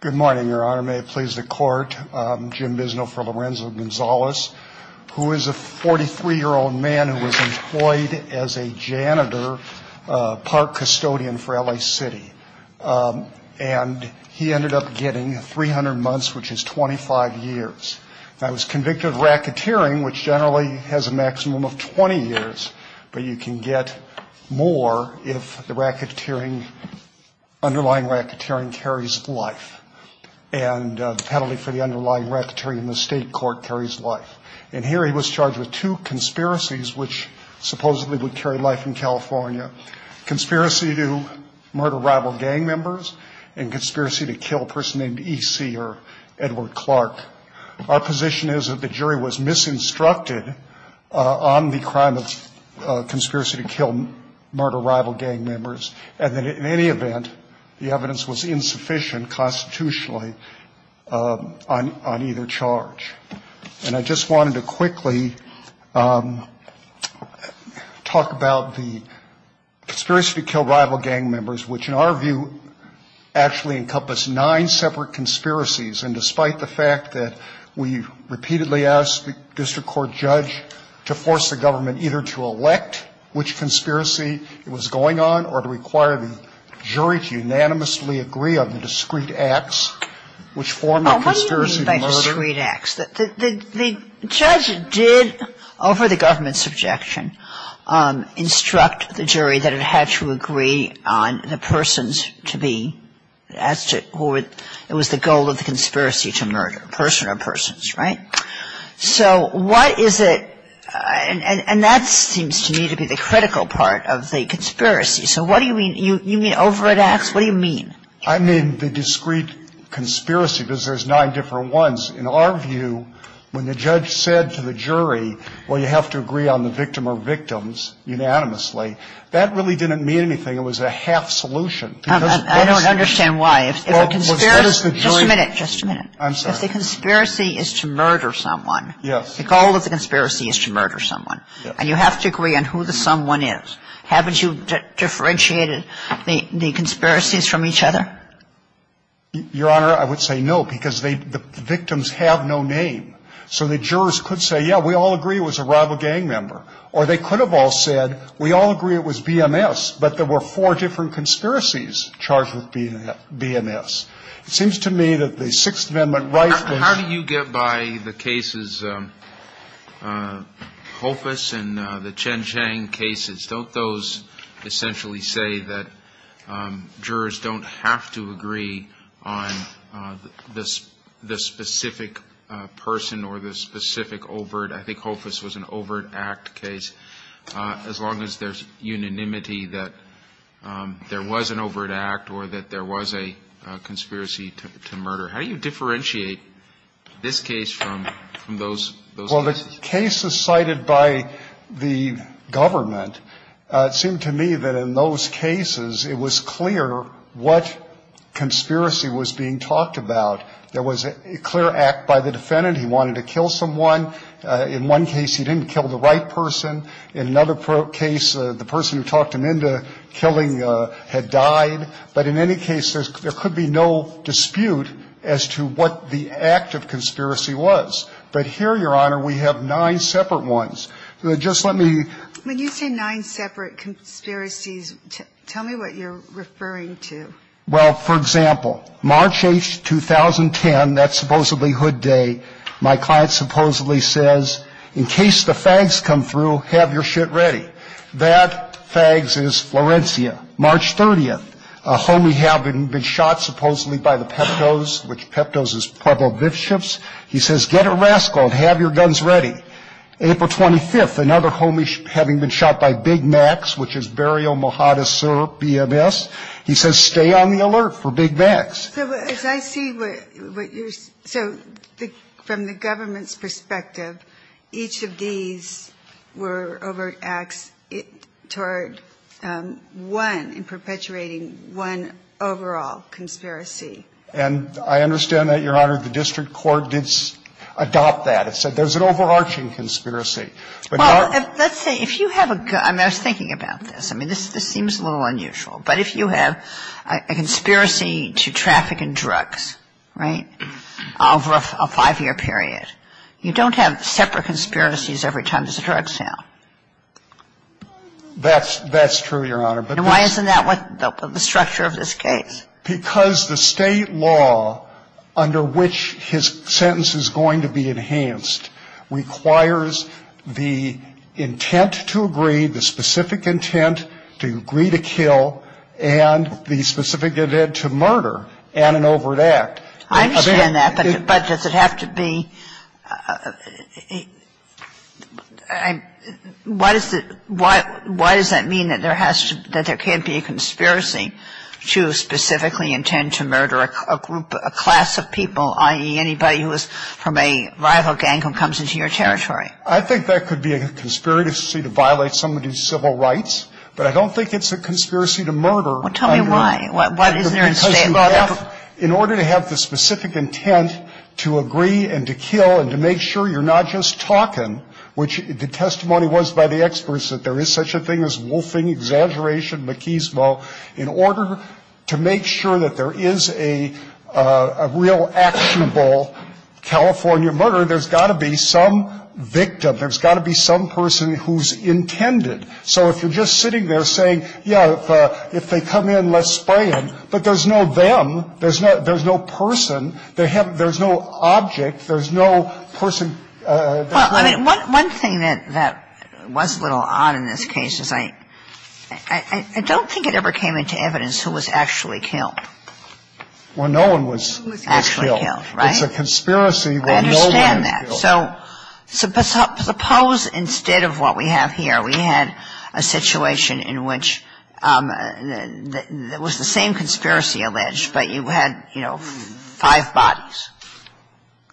Good morning, Your Honor. May it please the Court, I'm Jim Bisno for Lorenzo Gonzalez, who is a 43-year-old man who was employed as a janitor, park custodian for L.A. City, and he ended up getting 300 months, which is 25 years. Now, he was convicted of racketeering, which generally has a maximum of 20 years, but you can get more if the underlying racketeering carries life, and the penalty for the underlying racketeering in the state court carries life. And here he was charged with two conspiracies, which supposedly would carry life in California, conspiracy to murder rival gang members and conspiracy to kill a person named E.C. or Edward Clark. Our position is that the jury was misinstructed on the crime of conspiracy to kill murder rival gang members, and that in any event, the evidence was insufficient constitutionally on either charge. And I just wanted to quickly talk about the conspiracy to kill rival gang members, which in our view actually encompassed nine separate conspiracies. And despite the fact that we repeatedly asked the district court judge to force the government either to elect which conspiracy it was going on or to require the jury to unanimously agree on the discrete acts, which form a conspiracy to murder. The judge did, over the government's objection, instruct the jury that it had to agree on the persons to be, it was the goal of the conspiracy to murder, person or persons, right? So what is it, and that seems to me to be the critical part of the conspiracy. So what do you mean? You mean over at Axe? What do you mean? I mean the discrete conspiracy, because there's nine different ones. In our view, when the judge said to the jury, well, you have to agree on the victim or victims unanimously, that really didn't mean anything. It was a half solution. I don't understand why. If a conspiracy. Just a minute. Just a minute. I'm sorry. If the conspiracy is to murder someone. Yes. The goal of the conspiracy is to murder someone. And you have to agree on who the someone is. Have you differentiated the conspiracies from each other? Your Honor, I would say no, because the victims have no name. So the jurors could say, yeah, we all agree it was a rival gang member. Or they could have all said we all agree it was BMS, but there were four different conspiracies charged with being BMS. It seems to me that the Sixth Amendment rights. How do you get by the cases, Hoffas and the Chen Chang cases? Don't those essentially say that jurors don't have to agree on the specific person or the specific overt? I think Hoffas was an overt act case. As long as there's unanimity that there was an overt act or that there was a conspiracy to murder. How do you differentiate this case from those cases? The cases cited by the government, it seemed to me that in those cases it was clear what conspiracy was being talked about. There was a clear act by the defendant. He wanted to kill someone. In one case, he didn't kill the right person. In another case, the person who talked him into killing had died. But in any case, there could be no dispute as to what the act of conspiracy was. But here, Your Honor, we have nine separate ones. Just let me ---- When you say nine separate conspiracies, tell me what you're referring to. Well, for example, March 8th, 2010, that's supposedly Hood Day, my client supposedly says, in case the fags come through, have your shit ready. That fags is Florencia. March 30th, a homie had been shot supposedly by the Peptos, which Peptos is Pueblo bishops. He says, get a rascal and have your guns ready. April 25th, another homie having been shot by Big Macs, which is Berrio Mojadas BMS. He says, stay on the alert for Big Macs. So as I see what you're ---- so from the government's perspective, each of these were overt acts toward one in perpetuating one overall conspiracy. And I understand that, Your Honor, the district court did adopt that. It said there's an overarching conspiracy. But not ---- Well, let's say if you have a ---- I mean, I was thinking about this. I mean, this seems a little unusual. But if you have a conspiracy to traffic in drugs, right, over a five-year period, you don't have separate conspiracies every time there's a drug sale. That's true, Your Honor. And why isn't that the structure of this case? Because the State law under which his sentence is going to be enhanced requires the intent to agree, the specific intent to agree to kill, and the specific intent to murder, and an overt act. I understand that. But does it have to be ---- why does it ---- why does that mean that there has to ---- I understand that. But does it have to be a conspiracy to specifically intend to murder a group, a class of people, i.e., anybody who is from a rival gang who comes into your territory? I think that could be a conspiracy to violate somebody's civil rights. But I don't think it's a conspiracy to murder under ---- Well, tell me why. What is there in the State law that ---- Because you have, in order to have the specific intent to agree and to kill and to make sure you're not just talking, which the testimony was by the experts that there is such a thing as wolfing, exaggeration, machismo, in order to make sure that there is a real actionable California murder, there's got to be some victim, there's got to be some person who's intended. So if you're just sitting there saying, yeah, if they come in, let's spray them, but there's no them, there's no person, there's no object, there's no person ---- Well, I mean, one thing that was a little odd in this case is I don't think it ever came into evidence who was actually killed. Well, no one was actually killed. It's a conspiracy where no one was killed. I understand that. So suppose instead of what we have here, we had a situation in which there was the same conspiracy alleged, but you had, you know, five bodies.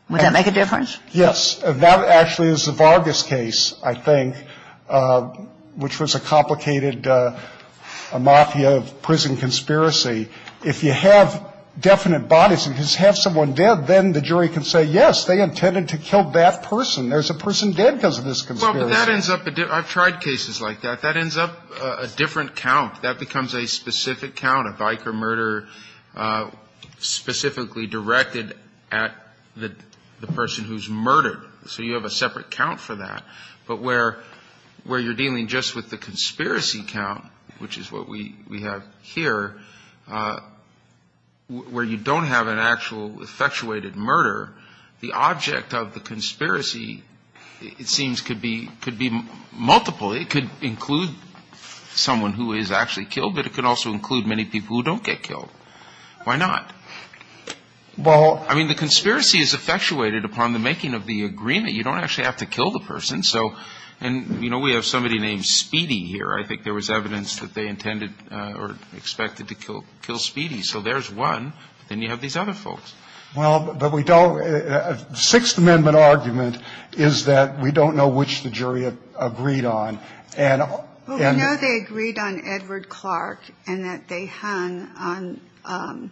Would that make a difference? Yes. That actually is the Vargas case, I think, which was a complicated mafia of prison conspiracy. If you have definite bodies and just have someone dead, then the jury can say, yes, they intended to kill that person. There's a person dead because of this conspiracy. Well, but that ends up ---- I've tried cases like that. That ends up a different count. That becomes a specific count, a biker murder specifically directed at the person who's murdered. So you have a separate count for that. But where you're dealing just with the conspiracy count, which is what we have here, where you don't have an actual effectuated murder, the object of the conspiracy, it seems, could be multiple. It could include someone who is actually killed, but it could also include many people who don't get killed. Why not? Well, I mean, the conspiracy is effectuated upon the making of the agreement. You don't actually have to kill the person. So, and, you know, we have somebody named Speedy here. I think there was evidence that they intended or expected to kill Speedy. So there's one. Then you have these other folks. Well, but we don't ---- The Sixth Amendment argument is that we don't know which the jury agreed on. And ---- Well, we know they agreed on Edward Clark and that they hung on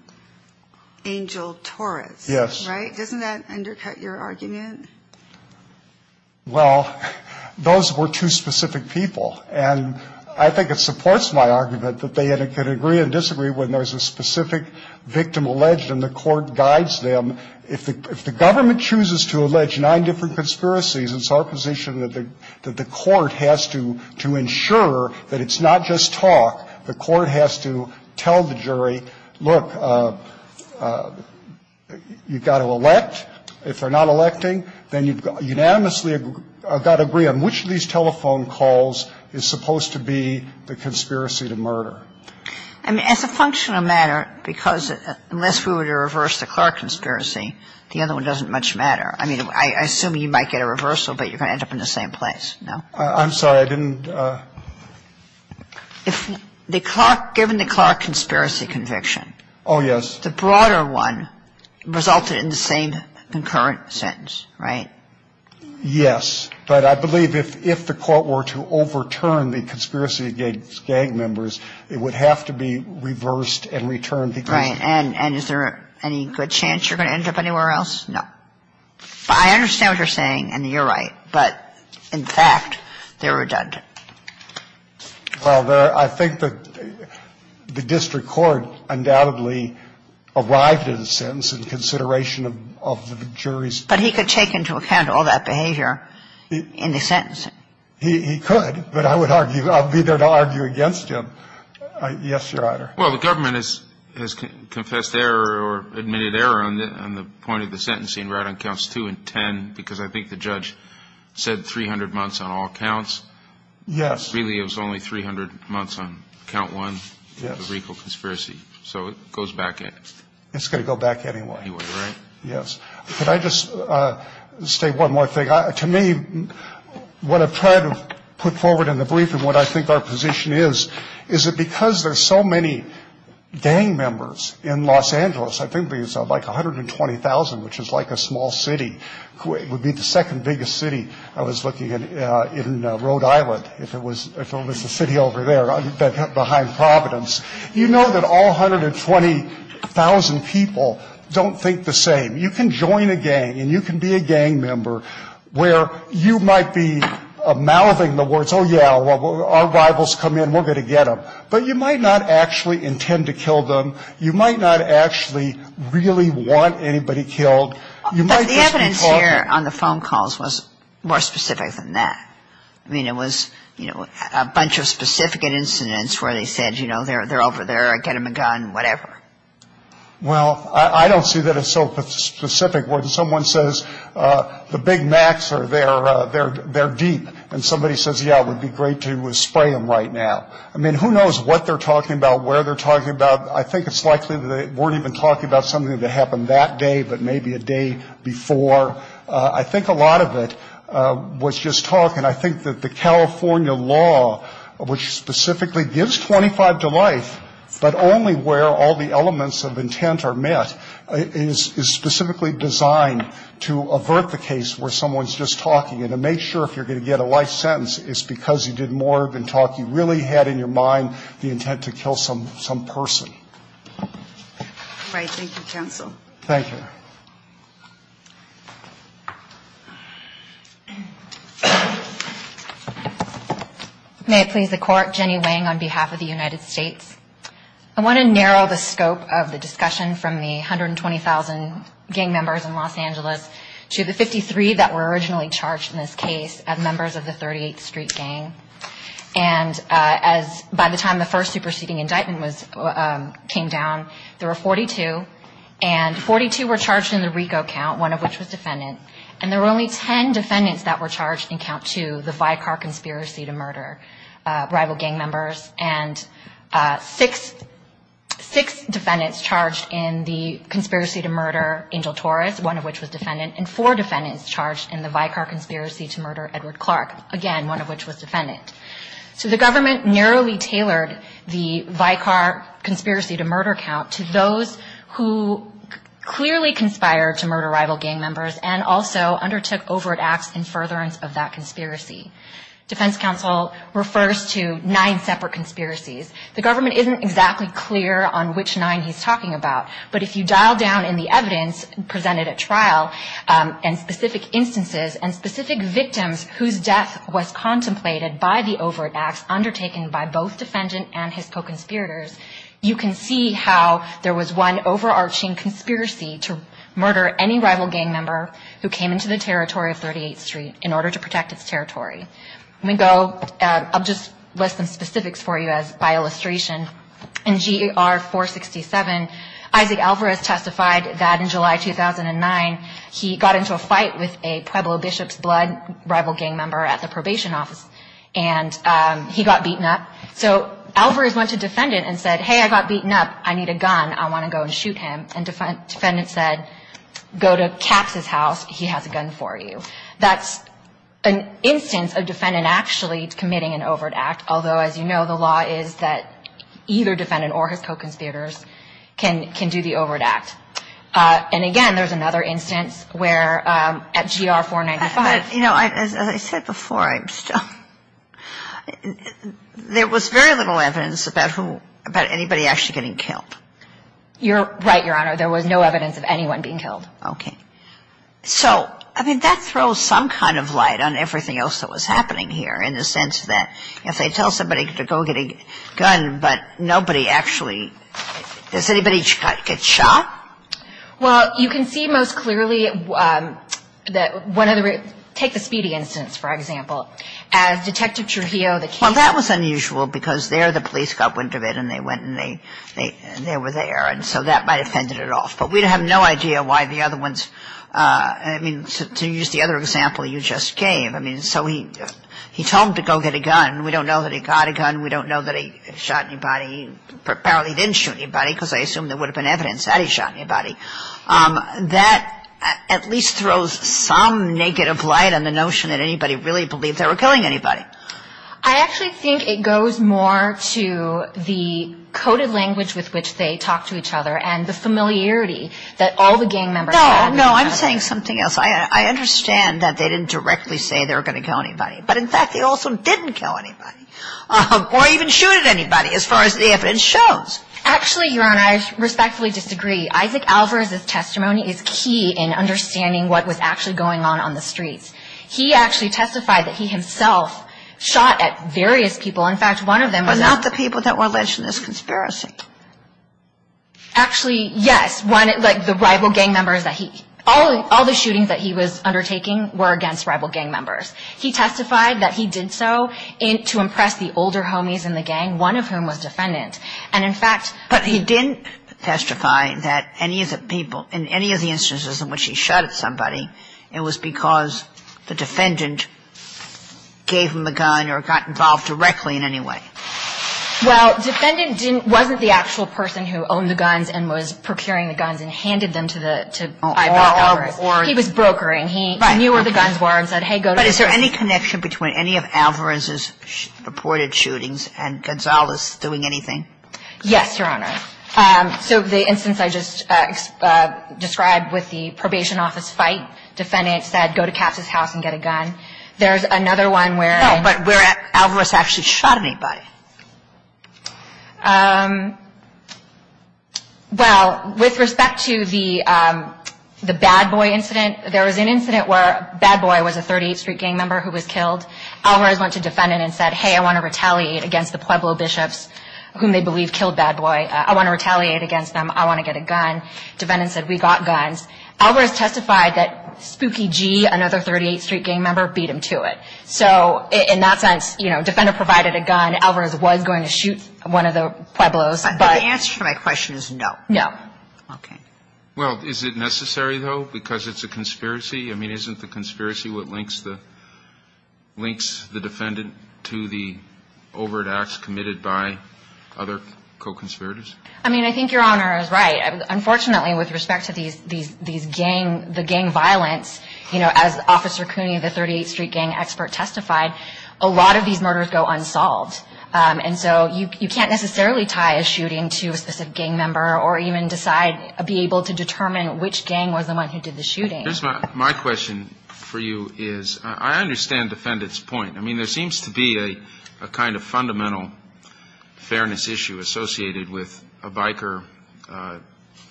Angel Torres. Yes. Right? Doesn't that undercut your argument? Well, those were two specific people. And I think it supports my argument that they could agree and disagree when there's a specific victim alleged and the court guides them. If the government chooses to allege nine different conspiracies, it's our position that the court has to ensure that it's not just talk. The court has to tell the jury, look, you've got to elect. If they're not electing, then you've unanimously got to agree on which of these telephone calls is supposed to be the conspiracy to murder. I mean, as a functional matter, because unless we were to reverse the Clark conspiracy, the other one doesn't much matter. I mean, I assume you might get a reversal, but you're going to end up in the same place, no? I'm sorry, I didn't ---- If the Clark ---- given the Clark conspiracy conviction ---- Oh, yes. The broader one resulted in the same concurrent sentence, right? Yes. But I believe if the court were to overturn the conspiracy against gang members, it would have to be reversed and returned because ---- Right. And is there any good chance you're going to end up anywhere else? I understand what you're saying, and you're right, but in fact, they're redundant. Well, there ---- I think the district court undoubtedly arrived at a sentence in consideration of the jury's ---- But he could take into account all that behavior in the sentencing. He could, but I would argue ---- I'll be there to argue against him. Yes, Your Honor. Well, the government has confessed error or admitted error on the point of the sentencing right on counts two and ten because I think the judge said 300 months on all counts. Yes. Really, it was only 300 months on count one. Yes. The recall conspiracy. So it goes back ---- It's going to go back anyway. Anyway, right? Yes. Could I just say one more thing? To me, what I've tried to put forward in the brief and what I think our position is, is that because there are so many gang members in Los Angeles, I think there's like 120,000, which is like a small city, would be the second biggest city I was looking at in Rhode Island, if it was the city over there behind Providence. You know that all 120,000 people don't think the same. You can join a gang and you can be a gang member where you might be mouthing the words, oh, yeah, our rivals come in, we're going to get them. But you might not actually intend to kill them. You might not actually really want anybody killed. You might just be talking ---- But the evidence here on the phone calls was more specific than that. I mean, it was, you know, a bunch of specific incidents where they said, you know, they're over there, get them a gun, whatever. Well, I don't see that as so specific. Where someone says the Big Macs are there, they're deep. And somebody says, yeah, it would be great to spray them right now. I mean, who knows what they're talking about, where they're talking about. I think it's likely they weren't even talking about something that happened that day, but maybe a day before. I think a lot of it was just talk. And I think that the California law, which specifically gives 25 to life, but only where all the elements of intent are met, is specifically designed to avert the case where someone's just talking. And to make sure if you're going to get a life sentence, it's because you did more than talk. You really had in your mind the intent to kill some person. Right. Thank you. May it please the Court. Jenny Wang on behalf of the United States. I want to narrow the scope of the discussion from the 120,000 gang members in Los Angeles to the 53 that were originally charged in this case as members of the 38th Street Gang. And by the time the first superseding indictment came down, there were 42. And 42 were charged in the RICO count, one of which was defendant. And there were only 10 defendants that were charged in count two, the Vicar Conspiracy to Murder rival gang members. And six defendants charged in the Conspiracy to Murder Angel Torres, one of which was defendant, and four defendants charged in the Vicar Conspiracy to Murder Edward Clark, again, one of which was defendant. So the government narrowly tailored the Vicar Conspiracy to Murder count to those who clearly conspired to murder rival gang members and also undertook overt acts in furtherance of that conspiracy. Defense counsel refers to nine separate conspiracies. The government isn't exactly clear on which nine he's talking about. But if you dial down in the evidence presented at trial and specific instances and specific victims whose death was contemplated by the overt acts undertaken by both defendant and his co-conspirators, you can see how there was one overarching conspiracy to murder any rival gang member who came into the territory of 38th Street in order to protect its territory. Let me go, I'll just list some specifics for you by illustration. In GR 467, Isaac Alvarez testified that in July 2009, he got into a fight with a Pueblo Bishops Blood rival gang member at the probation office, and he got beaten up. So Alvarez went to defendant and said, hey, I got beaten up. I need a gun. I want to go and shoot him. And defendant said, go to Caps' house. He has a gun for you. That's an instance of defendant actually committing an overt act, although, as you know, the law is that either defendant or his co-conspirators can do the overt act. And, again, there's another instance where at GR 495. But, you know, as I said before, there was very little evidence about anybody actually getting killed. You're right, Your Honor. There was no evidence of anyone being killed. Okay. So, I mean, that throws some kind of light on everything else that was happening here in the sense that if they tell somebody to go get a gun, but nobody actually, does anybody get shot? Well, you can see most clearly that one of the, take the Speedy instance, for example. As Detective Trujillo, the case. Well, that was unusual because there the police got wind of it, and they went and they were there. And so that might have fended it off. But we have no idea why the other ones, I mean, to use the other example you just gave. I mean, so he told him to go get a gun. We don't know that he got a gun. We don't know that he shot anybody. He apparently didn't shoot anybody because I assume there would have been evidence that he shot anybody. That at least throws some negative light on the notion that anybody really believed they were killing anybody. I actually think it goes more to the coded language with which they talked to each other and the familiarity that all the gang members had. No, no. I'm saying something else. I understand that they didn't directly say they were going to kill anybody. But, in fact, they also didn't kill anybody or even shoot at anybody as far as the evidence shows. Actually, Your Honor, I respectfully disagree. Isaac Alvarez's testimony is key in understanding what was actually going on on the streets. He actually testified that he himself shot at various people. In fact, one of them was. But not the people that were alleged in this conspiracy. Actually, yes. Like the rival gang members that he. All the shootings that he was undertaking were against rival gang members. He testified that he did so to impress the older homies in the gang, one of whom was defendant. And, in fact. But he didn't testify that any of the people, in any of the instances in which he shot at somebody, it was because the defendant gave him the gun or got involved directly in any way. Well, defendant wasn't the actual person who owned the guns and was procuring the guns and handed them to Alvarez. He was brokering. He knew where the guns were and said, hey, go to. But is there any connection between any of Alvarez's reported shootings and Gonzalez doing anything? Yes, Your Honor. So the instance I just described with the probation office fight, defendant said, go to Katz's house and get a gun. There's another one where. No, but where Alvarez actually shot anybody. Well, with respect to the bad boy incident, there was an incident where bad boy was a 38th Street gang member who was killed. Alvarez went to defendant and said, hey, I want to retaliate against the Pueblo bishops whom they believe killed bad boy. I want to retaliate against them. I want to get a gun. Defendant said, we got guns. Alvarez testified that Spooky G, another 38th Street gang member, beat him to it. So in that sense, defendant provided a gun. Alvarez was going to shoot one of the Pueblos. But the answer to my question is no. No. OK. Well, is it necessary, though, because it's a conspiracy? I mean, isn't the conspiracy what links the defendant to the overt acts committed by other co-conspirators? I mean, I think Your Honor is right. Unfortunately, with respect to these gang, the gang violence, you know, as Officer Cooney, the 38th Street gang expert testified, a lot of these murders go unsolved. And so you can't necessarily tie a shooting to a specific gang member or even decide, be able to determine which gang was the one who did the shooting. My question for you is, I understand defendant's point. I mean, there seems to be a kind of fundamental fairness issue associated with a biker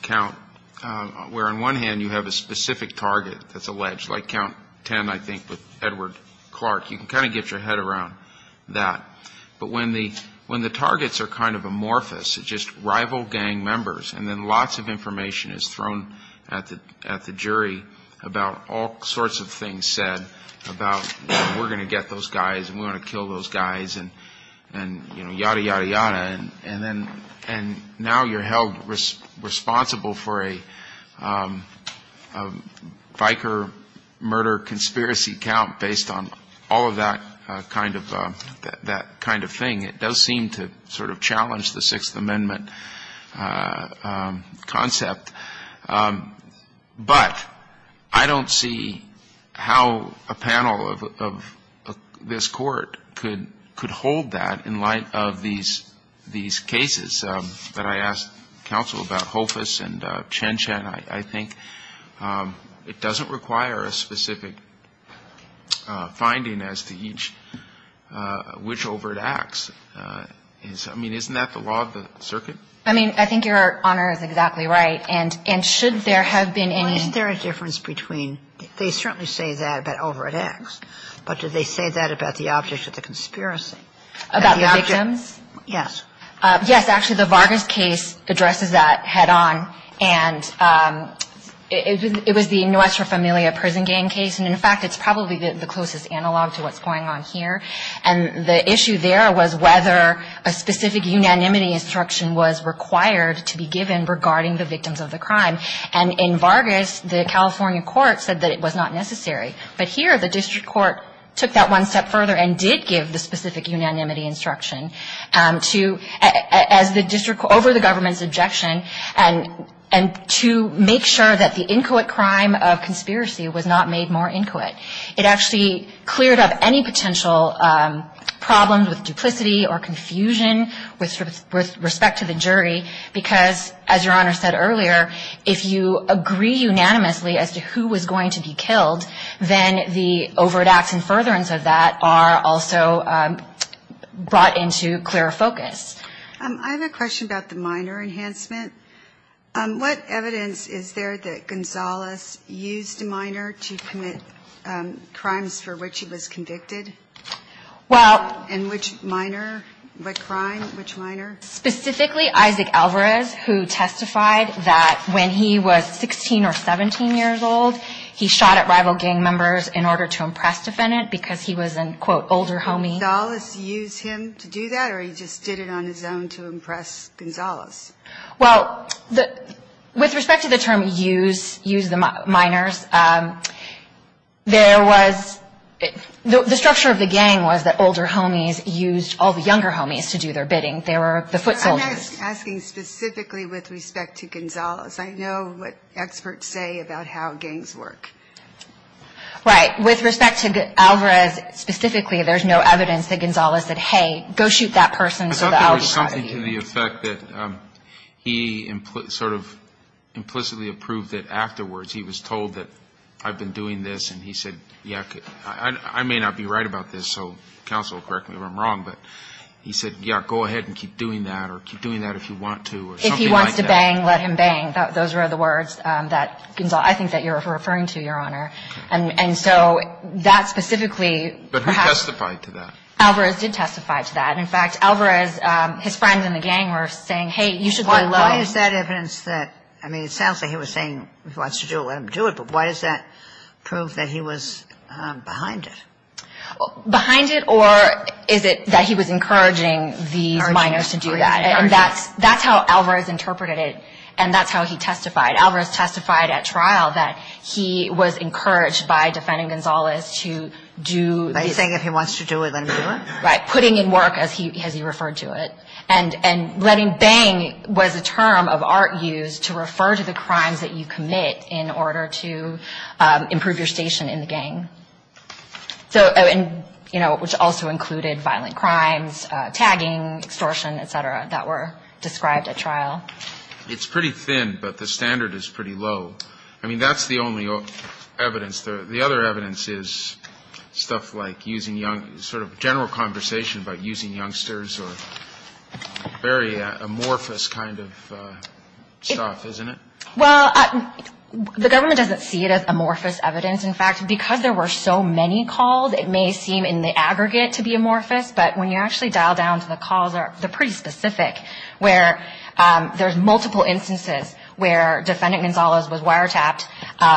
count, where on one hand you have a specific target that's alleged, like count 10, I think, with Edward Clark. You can kind of get your head around that. But when the targets are kind of amorphous, just rival gang members, and then lots of information is thrown at the jury about all sorts of things said about, you know, we're going to get those guys and we want to kill those guys and, you know, yada, yada, yada. And now you're held responsible for a biker murder conspiracy count based on all of that kind of thing. It does seem to sort of challenge the Sixth Amendment concept. But I don't see how a panel of this Court could hold that in light of these cases that I asked counsel about, Hofus and Chen Chen. I think it doesn't require a specific finding as to each which overt acts. I mean, isn't that the law of the circuit? I mean, I think Your Honor is exactly right. And should there have been any – Well, is there a difference between – they certainly say that about overt acts. But do they say that about the object of the conspiracy? About the victims? Yes. Yes. Actually, the Vargas case addresses that head on. And it was the Nuestra Familia prison gang case. And, in fact, it's probably the closest analog to what's going on here. And the issue there was whether a specific unanimity instruction was required to be given regarding the victims of the crime. And in Vargas, the California court said that it was not necessary. But here the district court took that one step further and did give the specific unanimity instruction to – as the district – over the government's objection and to make sure that the inquit crime of conspiracy was not made more inquit. It actually cleared up any potential problems with duplicity or confusion with respect to the jury. Because, as Your Honor said earlier, if you agree unanimously as to who was going to be killed, then the overt acts and furtherance of that are also brought into clearer focus. I have a question about the minor enhancement. What evidence is there that Gonzales used a minor to commit crimes for which he was convicted? Well – And which minor? What crime? Which minor? Specifically Isaac Alvarez, who testified that when he was 16 or 17 years old, he shot at rival gang members in order to impress defendant because he was an, quote, older homie. Did Gonzales use him to do that, or he just did it on his own to impress Gonzales? Well, with respect to the term use, use the minors, there was – the structure of the gang was that older homies used all the younger homies to do their bidding. They were the foot soldiers. I'm asking specifically with respect to Gonzales. I know what experts say about how gangs work. Right. With respect to Alvarez specifically, there's no evidence that Gonzales said, hey, go shoot that person so that I'll be proud of you. I think to the effect that he sort of implicitly approved that afterwards he was told that I've been doing this, and he said, yeah, I may not be right about this, so counsel, correct me if I'm wrong, but he said, yeah, go ahead and keep doing that or keep doing that if you want to or something like that. If he wants to bang, let him bang. Those were the words that Gonzales – I think that you're referring to, Your Honor. And so that specifically perhaps – But who testified to that? Alvarez did testify to that. In fact, Alvarez, his friends in the gang were saying, hey, you should go low. Why is that evidence that – I mean, it sounds like he was saying if he wants to do it, let him do it, but why does that prove that he was behind it? Behind it or is it that he was encouraging these minors to do that? And that's how Alvarez interpreted it, and that's how he testified. Alvarez testified at trial that he was encouraged by defending Gonzales to do – Are you saying if he wants to do it, let him do it? Right, putting in work, as he referred to it. And letting bang was a term of art used to refer to the crimes that you commit in order to improve your station in the gang. So – and, you know, which also included violent crimes, tagging, extortion, et cetera, that were described at trial. It's pretty thin, but the standard is pretty low. I mean, that's the only evidence. The other evidence is stuff like using young – sort of general conversation about using youngsters or very amorphous kind of stuff, isn't it? Well, the government doesn't see it as amorphous evidence. In fact, because there were so many calls, it may seem in the aggregate to be amorphous. But when you actually dial down to the calls, they're pretty specific, where there's multiple instances where defendant Gonzales was wiretapped,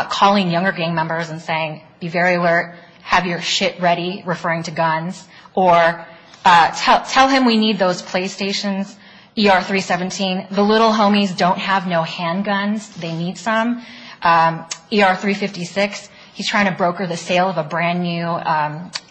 calling younger gang members and saying, be very alert, have your shit ready, referring to guns, or tell him we need those PlayStations, ER-317. The little homies don't have no handguns. They need some. ER-356, he's trying to broker the sale of a brand-new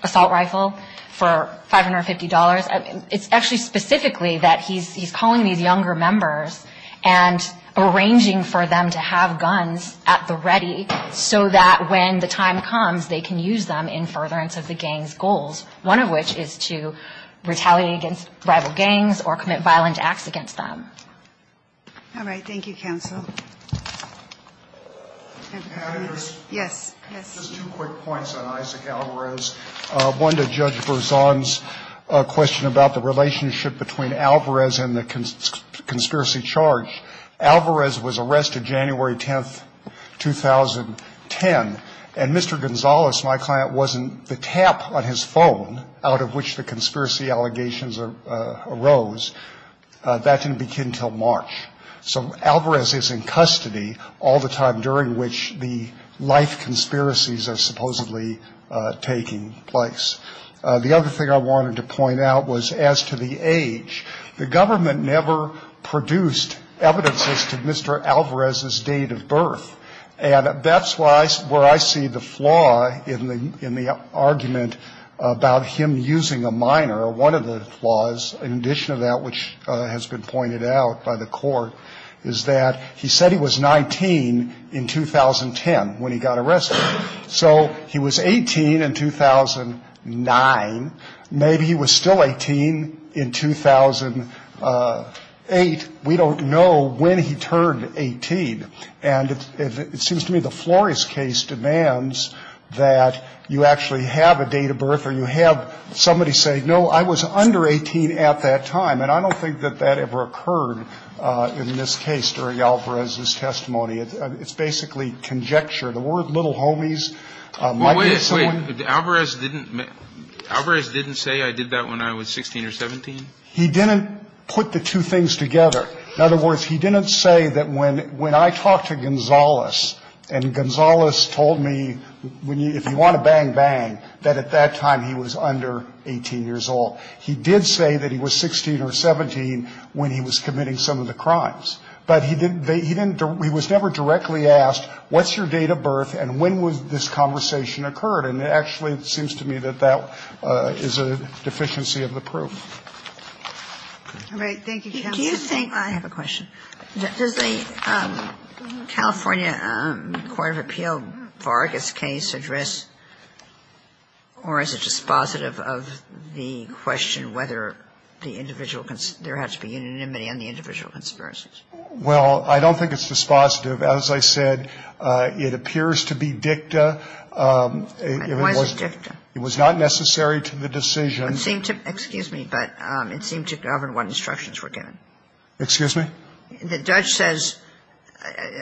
assault rifle for $550. It's actually specifically that he's calling these younger members and arranging for them to have guns at the ready so that when the time comes, they can use them in furtherance of the gang's goals, one of which is to retaliate against rival gangs or commit violent acts against them. All right. Thank you, counsel. Yes. Just two quick points on Isaac Alvarez. One to Judge Berzon's question about the relationship between Alvarez and the conspiracy charge. Alvarez was arrested January 10th, 2010, and Mr. Gonzales, my client, wasn't the tap on his phone out of which the conspiracy allegations arose. That didn't begin until March. So Alvarez is in custody all the time during which the life conspiracies are supposedly taking place. The other thing I wanted to point out was as to the age. The government never produced evidences to Mr. Alvarez's date of birth. And that's where I see the flaw in the argument about him using a minor. One of the flaws, in addition to that which has been pointed out by the court, is that he said he was 19 in 2010 when he got arrested. So he was 18 in 2009. Maybe he was still 18 in 2008. We don't know when he turned 18. And it seems to me the Flores case demands that you actually have a date of birth or you have somebody say, no, I was under 18 at that time. And I don't think that that ever occurred in this case during Alvarez's testimony. It's basically conjecture. The word little homies might be someone ---- Alvarez didn't say I did that when I was 16 or 17? He didn't put the two things together. In other words, he didn't say that when I talked to Gonzales and Gonzales told me, if you want to bang, that at that time he was under 18 years old. He did say that he was 16 or 17 when he was committing some of the crimes. But he didn't ---- he was never directly asked, what's your date of birth and when was this conversation occurred? And it actually seems to me that that is a deficiency of the proof. Ginsburg. All right. Thank you, counsel. Do you think I have a question? Does the California Court of Appeal Vargas case address or is it dispositive of the question whether the individual ---- there has to be unanimity on the individual conspiracies? Well, I don't think it's dispositive. As I said, it appears to be dicta. Why is it dicta? It was not necessary to the decision. It seemed to ---- excuse me, but it seemed to govern what instructions were given. Excuse me? The judge says,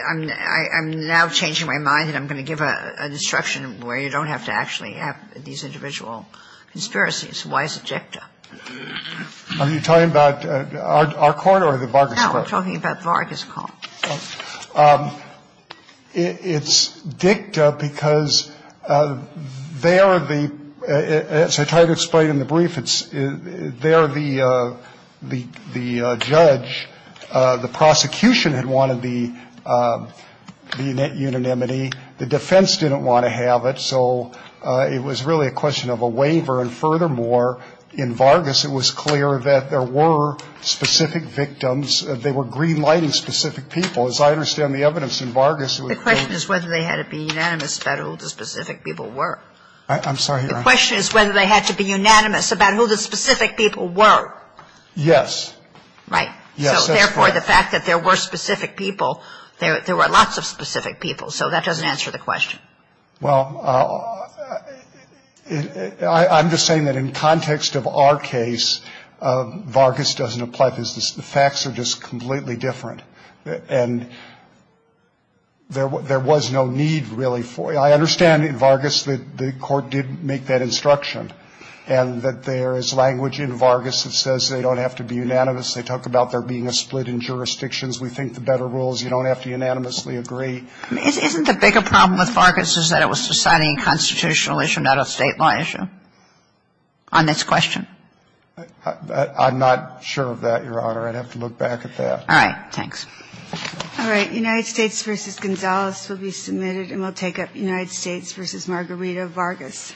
I'm now changing my mind and I'm going to give an instruction where you don't have to actually have these individual conspiracies. Why is it dicta? Are you talking about our court or the Vargas court? No, we're talking about Vargas court. It's dicta because there the ---- as I tried to explain in the brief, it's there the judge, the prosecution had wanted the net unanimity. The defense didn't want to have it, so it was really a question of a waiver. And furthermore, in Vargas, it was clear that there were specific victims. They were green-lighting specific people. As I understand the evidence in Vargas, it was clear ---- The question is whether they had to be unanimous about who the specific people were. I'm sorry, Your Honor. The question is whether they had to be unanimous about who the specific people were. Yes. Right. Yes, that's correct. So therefore, the fact that there were specific people, there were lots of specific people, so that doesn't answer the question. Well, I'm just saying that in context of our case, Vargas doesn't apply because the facts are just completely different. And there was no need really for it. I understand in Vargas that the court did make that instruction and that there is language in Vargas that says they don't have to be unanimous. They talk about there being a split in jurisdictions. We think the better rule is you don't have to unanimously agree. Isn't the bigger problem with Vargas is that it was a society and constitutional issue, not a State law issue on this question? I'm not sure of that, Your Honor. I'd have to look back at that. All right. Thanks. All right. United States v. Gonzalez will be submitted. And we'll take up United States v. Margarita Vargas.